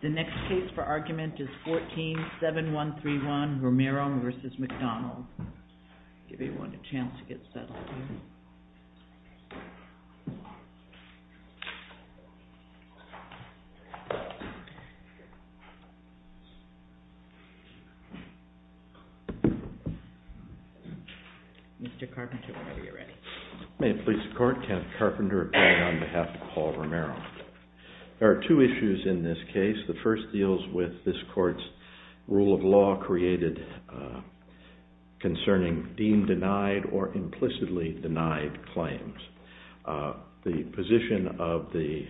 The next case for argument is 14-7131, Romero v. McDonald. I'll give everyone a chance to get settled here. Mr. Carpenter, whenever you're ready. May it please the Court, Kenneth Carpenter appearing on behalf of Paul Romero. There are two issues in this case. The first deals with this Court's rule of law created concerning deemed denied or implicitly denied claims. The position of the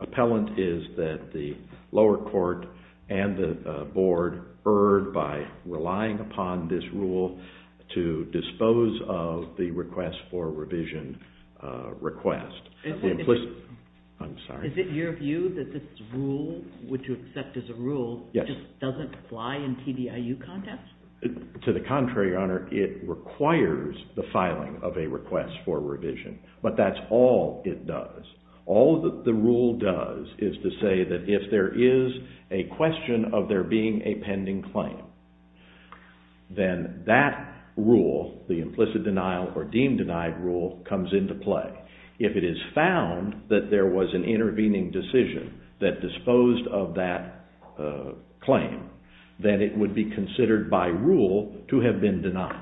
appellant is that the lower court and the board erred by relying upon this rule to dispose of the request for revision request. Is it your view that this rule, which you accept as a rule, just doesn't apply in TDIU context? To the contrary, Your Honor, it requires the filing of a request for revision, but that's all it does. All that the rule does is to say that if there is a question of there being a pending claim, then that rule, the implicit denial or deemed denied rule, comes into play. If it is found that there was an intervening decision that disposed of that claim, then it would be considered by rule to have been denied.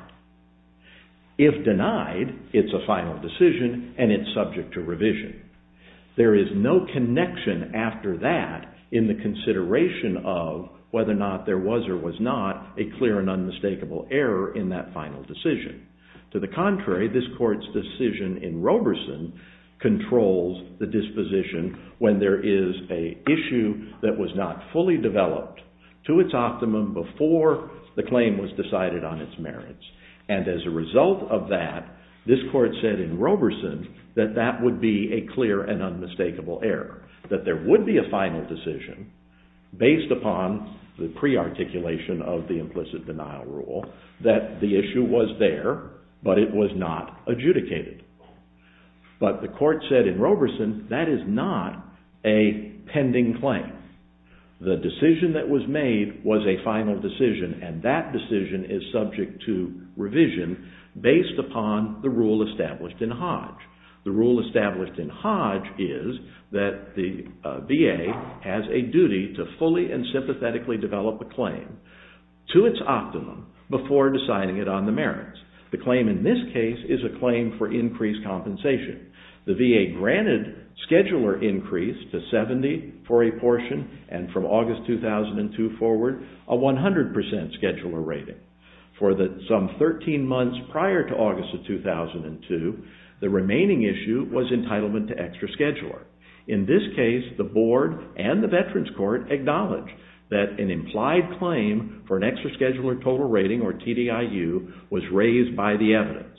If denied, it's a final decision and it's subject to revision. There is no connection after that in the consideration of whether or not there was or was not a clear and unmistakable error in that final decision. To the contrary, this Court's decision in Roberson controls the disposition when there is an issue that was not fully developed to its optimum before the claim was decided on its merits. And as a result of that, this Court said in Roberson that that would be a clear and unmistakable error, that there would be a final decision based upon the pre-articulation of the implicit denial rule, that the issue was there, but it was not adjudicated. But the Court said in Roberson that is not a pending claim. The decision that was made was a final decision and that decision is subject to revision based upon the rule established in Hodge. The rule established in Hodge is that the VA has a duty to fully and sympathetically develop a claim to its optimum before deciding it on the merits. The claim in this case is a claim for increased compensation. The VA granted scheduler increase to 70 for a portion and from August 2002 forward a 100% scheduler rating. For some 13 months prior to August of 2002, the remaining issue was entitlement to extra scheduler. In this case, the Board and the Veterans Court acknowledged that an implied claim for an extra scheduler total rating or TDIU was raised by the evidence.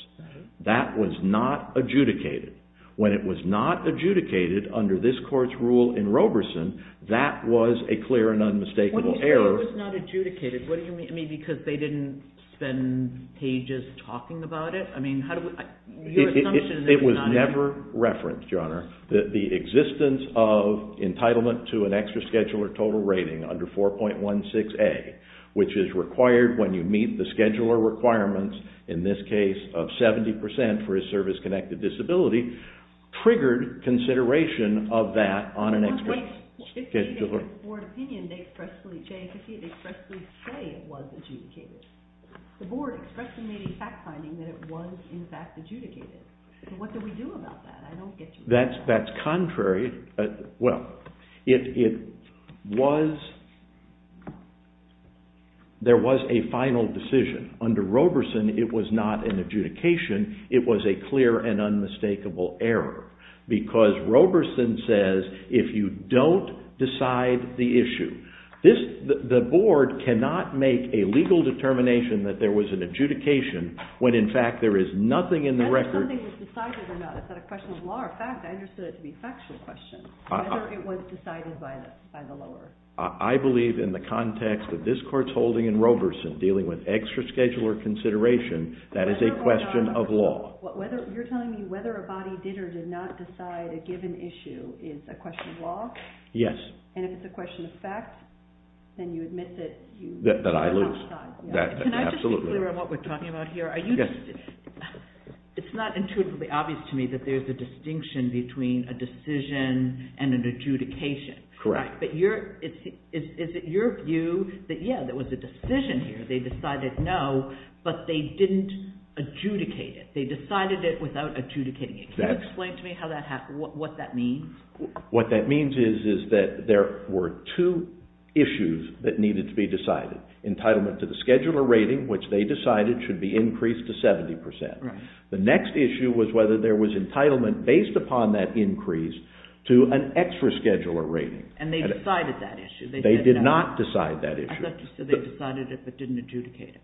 That was not adjudicated. When it was not adjudicated under this Court's rule in Roberson, that was a clear and unmistakable error. What do you mean it was not adjudicated? What do you mean? I mean, because they didn't spend pages talking about it? I mean, how do we… It was never referenced, Your Honor, that the existence of entitlement to an extra scheduler total rating under 4.16a, which is required when you meet the scheduler requirements, in this case of 70% for a service-connected disability, triggered consideration of that on an extra scheduler. In the Board's opinion, they expressly say it was adjudicated. The Board expressly made a fact finding that it was in fact adjudicated. What do we do about that? I don't get you. That's contrary. Well, there was a final decision. Under Roberson, it was not an adjudication. It was a clear and unmistakable error because Roberson says if you don't decide the issue, the Board cannot make a legal determination that there was an adjudication when in fact there is nothing in the record… Whether it was decided by the lower… I believe in the context that this Court's holding in Roberson, dealing with extra scheduler consideration, that is a question of law. You're telling me whether a body did or did not decide a given issue is a question of law? Yes. And if it's a question of fact, then you admit that… That I lose. Can I just be clear on what we're talking about here? Yes. It's not intuitively obvious to me that there's a distinction between a decision and an adjudication. Correct. But is it your view that, yeah, there was a decision here. They decided no, but they didn't adjudicate it. They decided it without adjudicating it. Can you explain to me what that means? What that means is that there were two issues that needed to be decided. Entitlement to the scheduler rating, which they decided should be increased to 70%. Right. The next issue was whether there was entitlement based upon that increase to an extra scheduler rating. And they decided that issue. They did not decide that issue. I thought you said they decided it but didn't adjudicate it.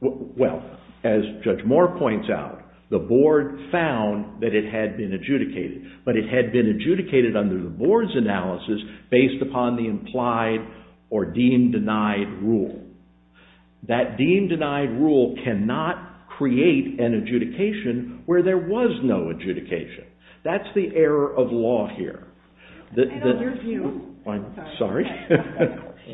Well, as Judge Moore points out, the board found that it had been adjudicated. But it had been adjudicated under the board's analysis based upon the implied or deemed denied rule. That deemed denied rule cannot create an adjudication where there was no adjudication. That's the error of law here. And in your view… I'm sorry?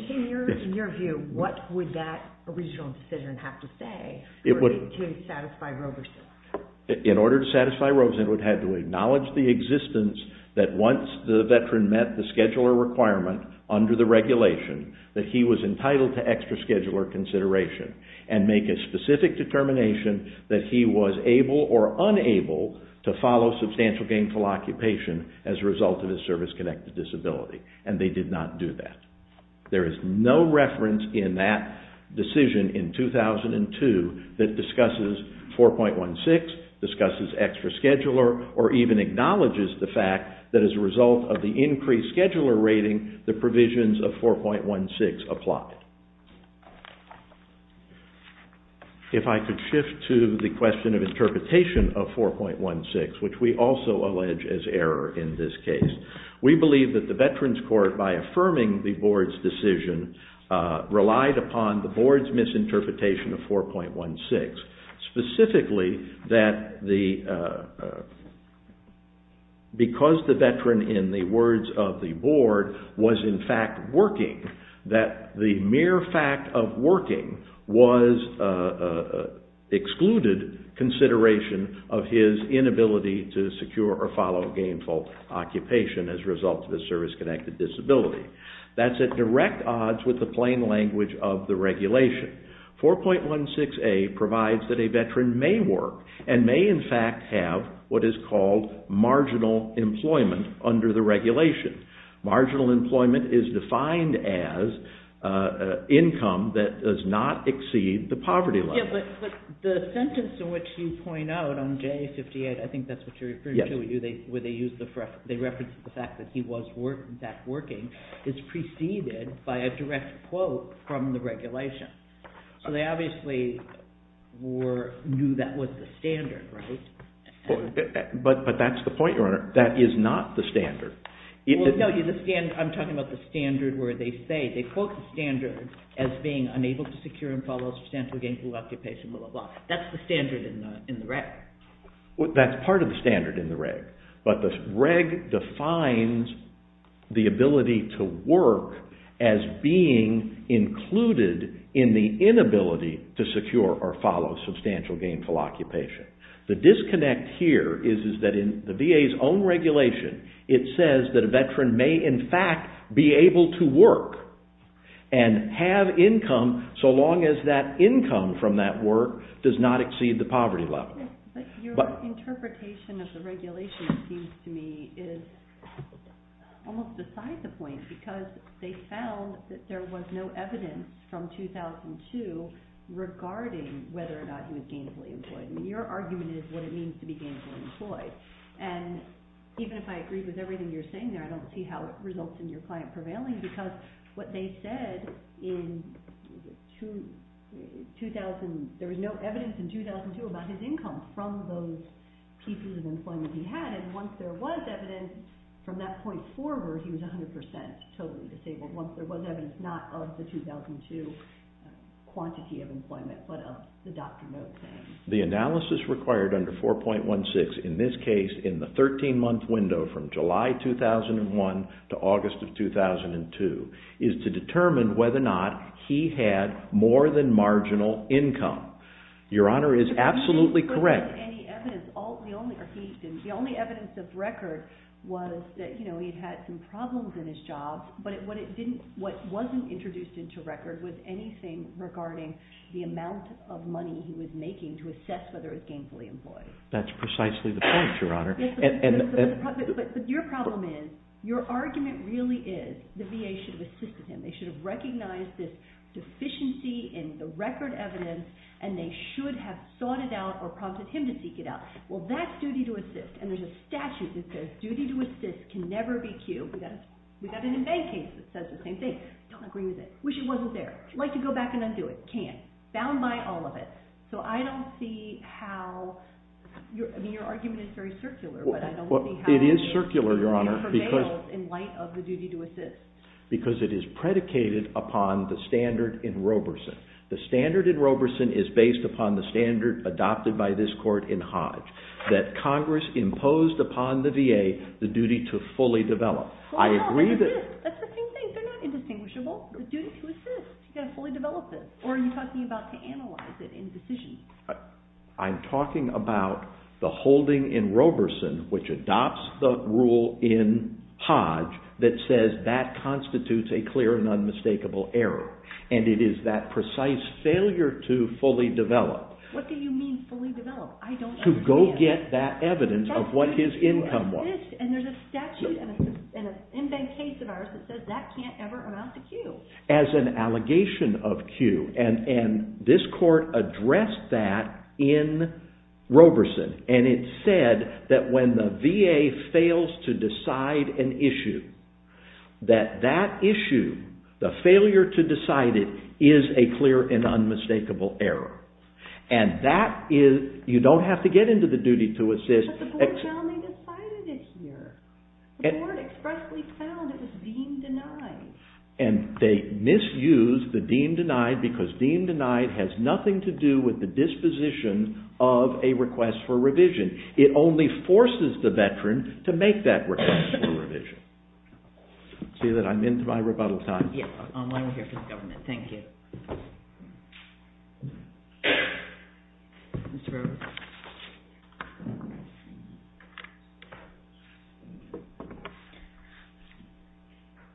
In your view, what would that original decision have to say in order to satisfy Roverson? In order to satisfy Roverson, it would have to acknowledge the existence that once the veteran met the scheduler requirement under the regulation, that he was entitled to extra scheduler consideration and make a specific determination that he was able or unable to follow substantial gainful occupation as a result of his service-connected disability. And they did not do that. There is no reference in that decision in 2002 that discusses 4.16, discusses extra scheduler, or even acknowledges the fact that as a result of the increased scheduler rating, the provisions of 4.16 apply. If I could shift to the question of interpretation of 4.16, which we also allege is error in this case. We believe that the Veterans Court, by affirming the Board's decision, relied upon the Board's misinterpretation of 4.16, specifically that because the veteran, in the words of the Board, was in fact working, that the mere fact of working was excluded consideration of his inability to secure or follow gainful occupation as a result of his service-connected disability. That's at direct odds with the plain language of the regulation. 4.16a provides that a veteran may work and may in fact have what is called marginal employment under the regulation. Marginal employment is defined as income that does not exceed the poverty line. Yeah, but the sentence in which you point out on J58, I think that's what you're referring to, where they use the, they reference the fact that he was in fact working, is preceded by a direct quote from the regulation. So they obviously knew that was the standard, right? But that's the point, Your Honor. That is not the standard. Well, no, I'm talking about the standard where they say, they quote the standard as being unable to secure and follow substantial gainful occupation, blah, blah, blah. That's the standard in the reg. Well, that's part of the standard in the reg. But the reg defines the ability to work as being included in the inability to secure or follow substantial gainful occupation. The disconnect here is that in the VA's own regulation, it says that a veteran may in fact be able to work and have income so long as that income from that work does not exceed the poverty level. But your interpretation of the regulation seems to me is almost beside the point because they found that there was no evidence from 2002 regarding whether or not he was gainfully employed. I mean, your argument is what it means to be gainfully employed. And even if I agree with everything you're saying there, I don't see how it results in your client prevailing because what they said in 2000, there was no evidence in 2002 about his income from those pieces of employment he had. And once there was evidence from that point forward, he was 100 percent totally disabled. Once there was evidence, not of the 2002 quantity of employment, but of the Dr. Moat thing. The analysis required under 4.16, in this case in the 13-month window from July 2001 to August of 2002, is to determine whether or not he had more than marginal income. Your Honor is absolutely correct. The only evidence of record was that he had some problems in his job, but what wasn't introduced into record was anything regarding the amount of money he was making to assess whether he was gainfully employed. That's precisely the point, Your Honor. But your problem is, your argument really is the VA should have assisted him. They should have recognized this deficiency in the record evidence, and they should have sought it out or prompted him to seek it out. Well, that's duty to assist, and there's a statute that says duty to assist can never be cued. We've got an in-bank case that says the same thing. Don't agree with it. Wish it wasn't there. Like to go back and undo it. Can't. Bound by all of it. So I don't see how your argument is very circular, but I don't see how it prevails in light of the duty to assist. It is circular, Your Honor, because it is predicated upon the standard in Roberson. The standard in Roberson is based upon the standard adopted by this Court in Hodge, that Congress imposed upon the VA the duty to fully develop. That's the same thing. They're not indistinguishable. The duty to assist. You've got to fully develop this. Or are you talking about to analyze it in decision? I'm talking about the holding in Roberson, which adopts the rule in Hodge, that says that constitutes a clear and unmistakable error, and it is that precise failure to fully develop. What do you mean fully develop? I don't understand. To go get that evidence of what his income was. That's the duty to assist. And there's a statute and a case of ours that says that can't ever amount to Q. As an allegation of Q. And this Court addressed that in Roberson, and it said that when the VA fails to decide an issue, that that issue, the failure to decide it, is a clear and unmistakable error. And you don't have to get into the duty to assist. But the Board found they decided it here. The Board expressly found it was deemed denied. And they misused the deemed denied because deemed denied has nothing to do with the disposition of a request for revision. It only forces the veteran to make that request for revision. See that I'm into my rebuttal time. I'm here for the government. Thank you.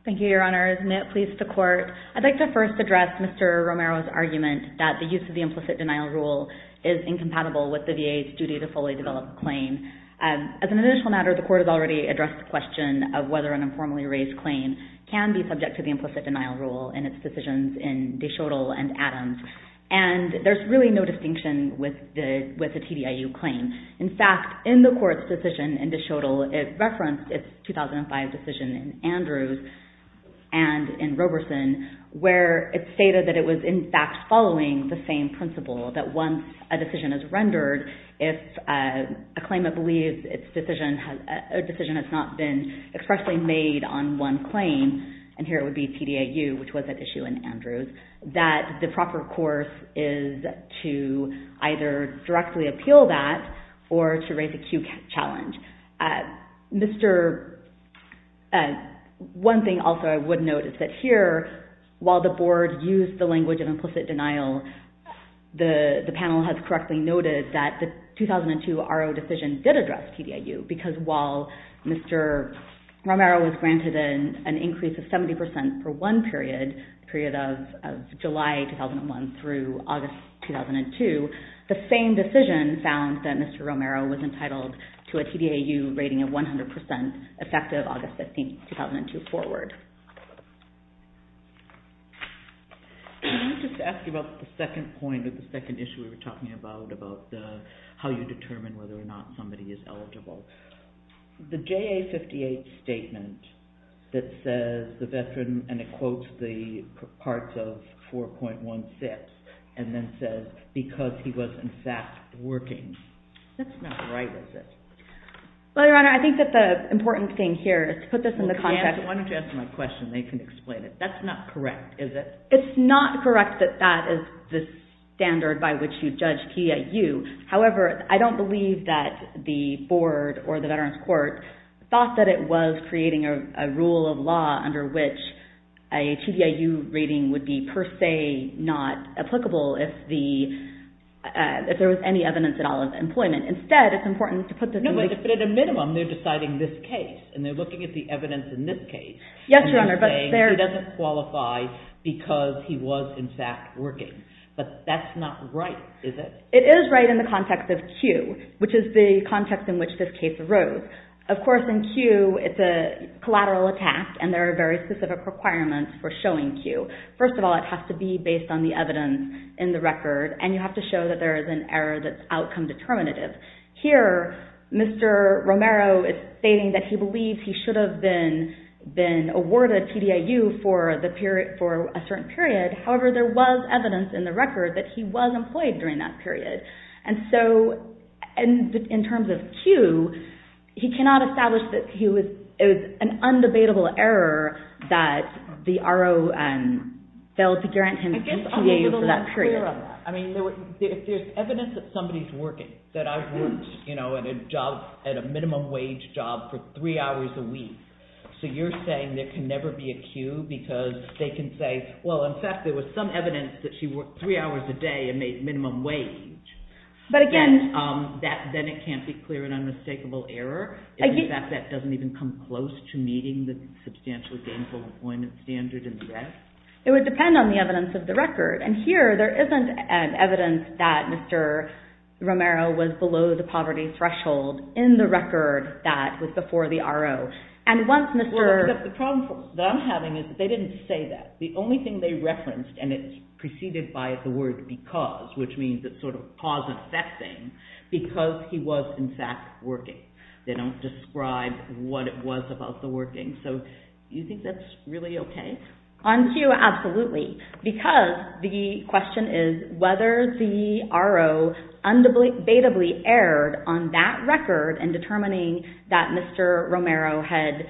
Thank you, Your Honor. May it please the Court. I'd like to first address Mr. Romero's argument that the use of the implicit denial rule is incompatible with the VA's duty to fully develop a claim. As an initial matter, the Court has already addressed the question of whether an informally raised claim can be subject to the implicit denial rule in its decisions in Deschotel and Adams. And there's really no distinction with the TDIU claim. In fact, in the Court's decision in Deschotel, it referenced its 2005 decision in Andrews and in Roberson, where it stated that it was, in fact, following the same principle, that once a decision is rendered, if a claimant believes a decision has not been expressly made on one claim, and here it would be TDIU, which was at issue in Andrews, that the proper course is to either directly appeal that or to raise a Q challenge. One thing also I would note is that here, while the Board used the language of implicit denial, the panel has correctly noted that the 2002 RO decision did address TDIU, because while Mr. Romero was granted an increase of 70% for one period, the period of July 2001 through August 2002, the same decision found that Mr. Romero was entitled to a TDIU rating of 100% effective August 15, 2002 forward. Can I just ask you about the second point, the second issue we were talking about, about how you determine whether or not somebody is eligible. The JA58 statement that says the veteran, and it quotes the parts of 4.16, and then says, because he was, in fact, working. That's not right, is it? Well, Your Honor, I think that the important thing here is to put this in the context. Why don't you ask them a question? They can explain it. That's not correct, is it? It's not correct that that is the standard by which you judge TDIU. However, I don't believe that the Board or the Veterans Court thought that it was creating a rule of law under which a TDIU rating would be, per se, not applicable if there was any evidence at all of employment. Instead, it's important to put this in the context. No, but at a minimum, they're deciding this case, and they're looking at the evidence in this case, and they're saying he doesn't qualify because he was, in fact, working. But that's not right, is it? It is right in the context of Q, which is the context in which this case arose. Of course, in Q, it's a collateral attack, and there are very specific requirements for showing Q. First of all, it has to be based on the evidence in the record, and you have to show that there is an error that's outcome determinative. Here, Mr. Romero is stating that he believes he should have been awarded TDIU for a certain period. However, there was evidence in the record that he was employed during that period. And so, in terms of Q, he cannot establish that it was an undebatable error that the RO failed to guarantee him TDIU for that period. If there's evidence that somebody's working, that I've worked at a minimum-wage job for three hours a week, so you're saying there can never be a Q because they can say, well, in fact, there was some evidence that she worked three hours a day and made minimum wage, then it can't be clear an unmistakable error, if, in fact, that doesn't even come close to meeting the substantially gainful employment standard and the rest? It would depend on the evidence of the record. And here, there isn't evidence that Mr. Romero was below the poverty threshold in the record that was before the RO. The problem that I'm having is that they didn't say that. The only thing they referenced, and it's preceded by the word because, which means it sort of posits that thing, because he was, in fact, working. They don't describe what it was about the working. So, do you think that's really okay? On Q, absolutely. Because the question is whether the RO unbeatably erred on that record in determining that Mr. Romero had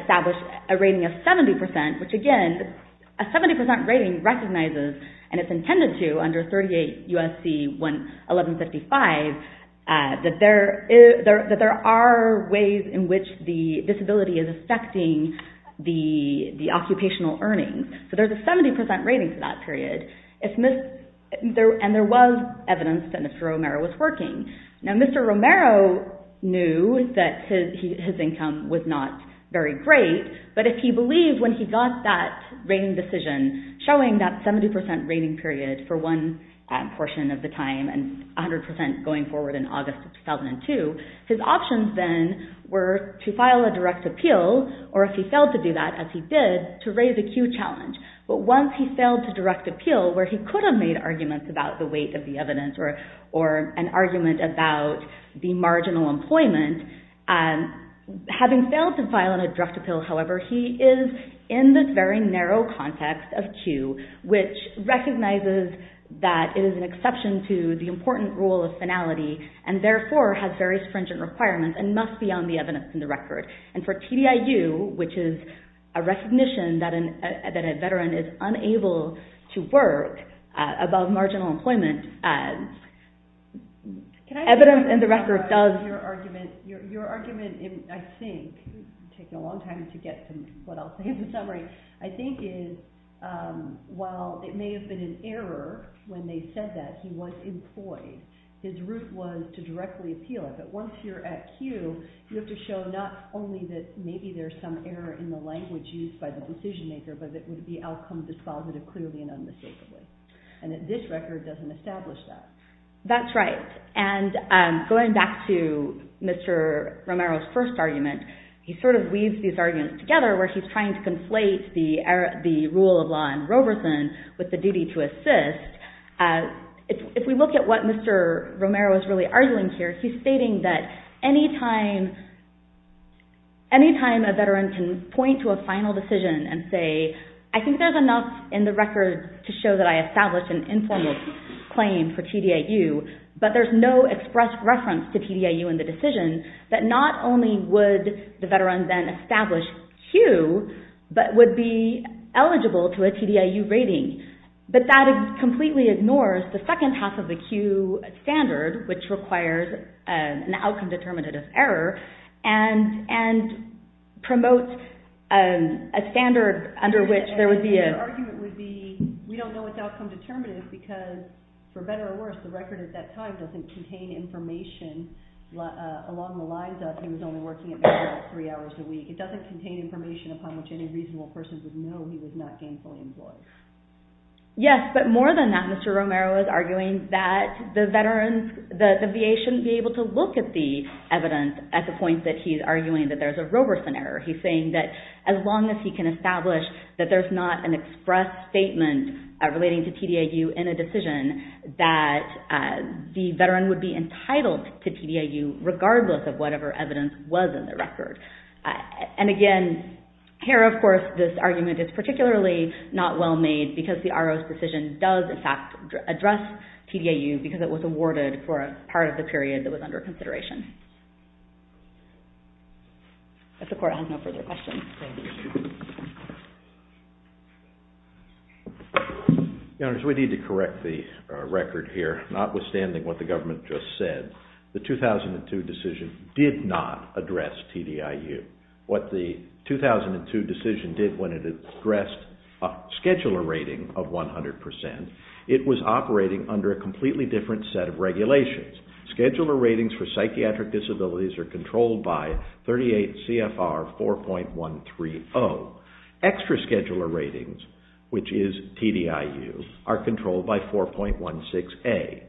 established a rating of 70%, which, again, a 70% rating recognizes, and it's intended to under 38 U.S.C. 1155, that there are ways in which the disability is affecting the occupational earnings. So, there's a 70% rating for that period, and there was evidence that Mr. Romero was working. Now, Mr. Romero knew that his income was not very great, but if he believed when he got that rating decision, showing that 70% rating period for one portion of the time and 100% going forward in August 2002, his options then were to file a direct appeal, or if he failed to do that, as he did, to raise a Q challenge. But once he failed to direct appeal, where he could have made arguments about the weight of the evidence or an argument about the marginal employment, having failed to file a direct appeal, however, he is in this very narrow context of Q, which recognizes that it is an exception to the important rule of finality and, therefore, has very stringent requirements and must be on the evidence in the record. And for TDIU, which is a recognition that a veteran is unable to work above marginal employment, evidence in the record does... Your argument, I think, taking a long time to get to what I'll say in the summary, I think is, while it may have been an error when they said that he was employed, his route was to directly appeal it, but once you're at Q, you have to show not only that maybe there's some error in the language used by the decision maker, but that the outcome is positive, clearly and unmistakably. And this record doesn't establish that. That's right. And going back to Mr. Romero's first argument, he sort of weaves these arguments together, where he's trying to conflate the rule of law in Roberson with the duty to assist. If we look at what Mr. Romero is really arguing here, he's stating that anytime a veteran can point to a final decision and say, I think there's enough in the record to show that I established an informal claim for TDIU, but there's no express reference to TDIU in the decision, that not only would the veteran then establish Q, but would be eligible to a TDIU rating. But that completely ignores the second half of the Q standard, which requires an outcome determinative error, and promotes a standard under which there would be a- And the argument would be, we don't know what the outcome determinative is, because for better or worse, the record at that time doesn't contain information along the lines of, he was only working at VAR for three hours a week. It doesn't contain information upon which any reasonable person would know he was not gainfully employed. Yes, but more than that, Mr. Romero is arguing that the VA shouldn't be able to look at the evidence at the point that he's arguing that there's a Roberson error. He's saying that as long as he can establish that there's not an express statement relating to TDIU in a decision, that the veteran would be entitled to TDIU, regardless of whatever evidence was in the record. And again, here, of course, this argument is particularly not well made, because the RO's decision does, in fact, address TDIU, because it was awarded for a part of the period that was under consideration. If the court has no further questions, please. Your Honors, we need to correct the record here, notwithstanding what the government just said. The 2002 decision did not address TDIU. What the 2002 decision did when it addressed a scheduler rating of 100 percent, it was operating under a completely different set of regulations. Scheduler ratings for psychiatric disabilities are controlled by 38 CFR 4.130. Extra scheduler ratings, which is TDIU, are controlled by 4.16A.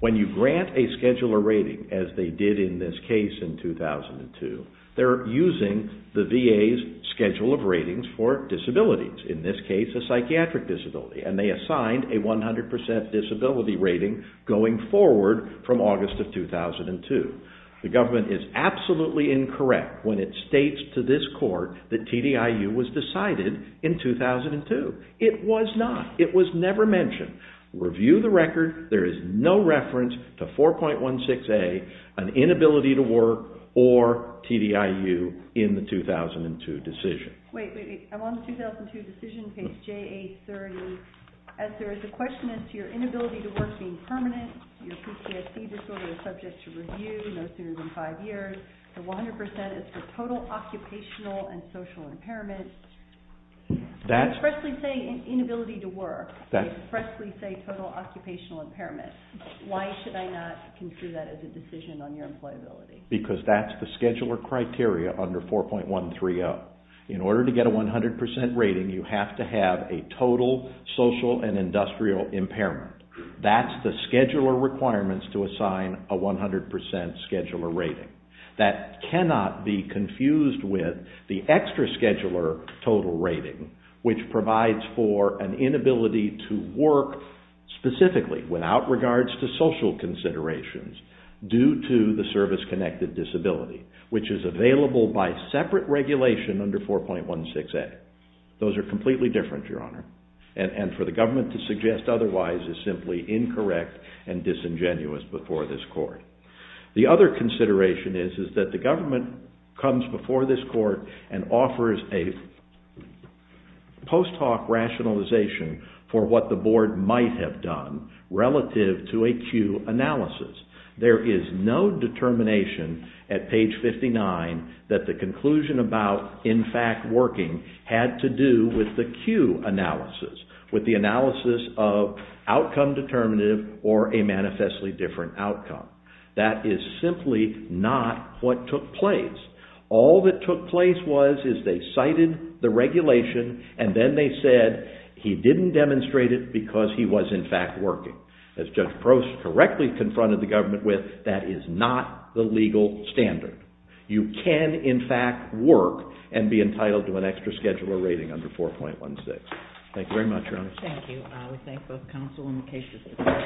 When you grant a scheduler rating, as they did in this case in 2002, they're using the VA's schedule of ratings for disabilities, in this case a psychiatric disability, and they assigned a 100 percent disability rating going forward from August of 2002. The government is absolutely incorrect when it states to this court that TDIU was decided in 2002. It was not. It was never mentioned. Review the record. There is no reference to 4.16A, an inability to work, or TDIU in the 2002 decision. Wait, wait, wait. I'm on the 2002 decision page, JA30. As there is a question as to your inability to work being permanent, your PTSD disorder is subject to review no sooner than five years, the 100 percent is for total occupational and social impairment. They expressly say inability to work. They expressly say total occupational impairment. Why should I not consider that as a decision on your employability? Because that's the scheduler criteria under 4.130. In order to get a 100 percent rating, you have to have a total social and industrial impairment. That's the scheduler requirements to assign a 100 percent scheduler rating. That cannot be confused with the extra scheduler total rating, which provides for an inability to work specifically, without regards to social considerations, due to the service-connected disability, which is available by separate regulation under 4.16A. Those are completely different, Your Honor. And for the government to suggest otherwise is simply incorrect and disingenuous before this court. The other consideration is that the government comes before this court and offers a post hoc rationalization for what the board might have done relative to a Q analysis. There is no determination at page 59 that the conclusion about in fact working had to do with the Q analysis, with the analysis of outcome determinative or a manifestly different outcome. That is simply not what took place. All that took place was is they cited the regulation and then they said, he didn't demonstrate it because he was in fact working. As Judge Prost correctly confronted the government with, that is not the legal standard. You can in fact work and be entitled to an extra scheduler rating under 4.16. Thank you very much, Your Honor. Thank you. We thank both counsel and the case reviewers.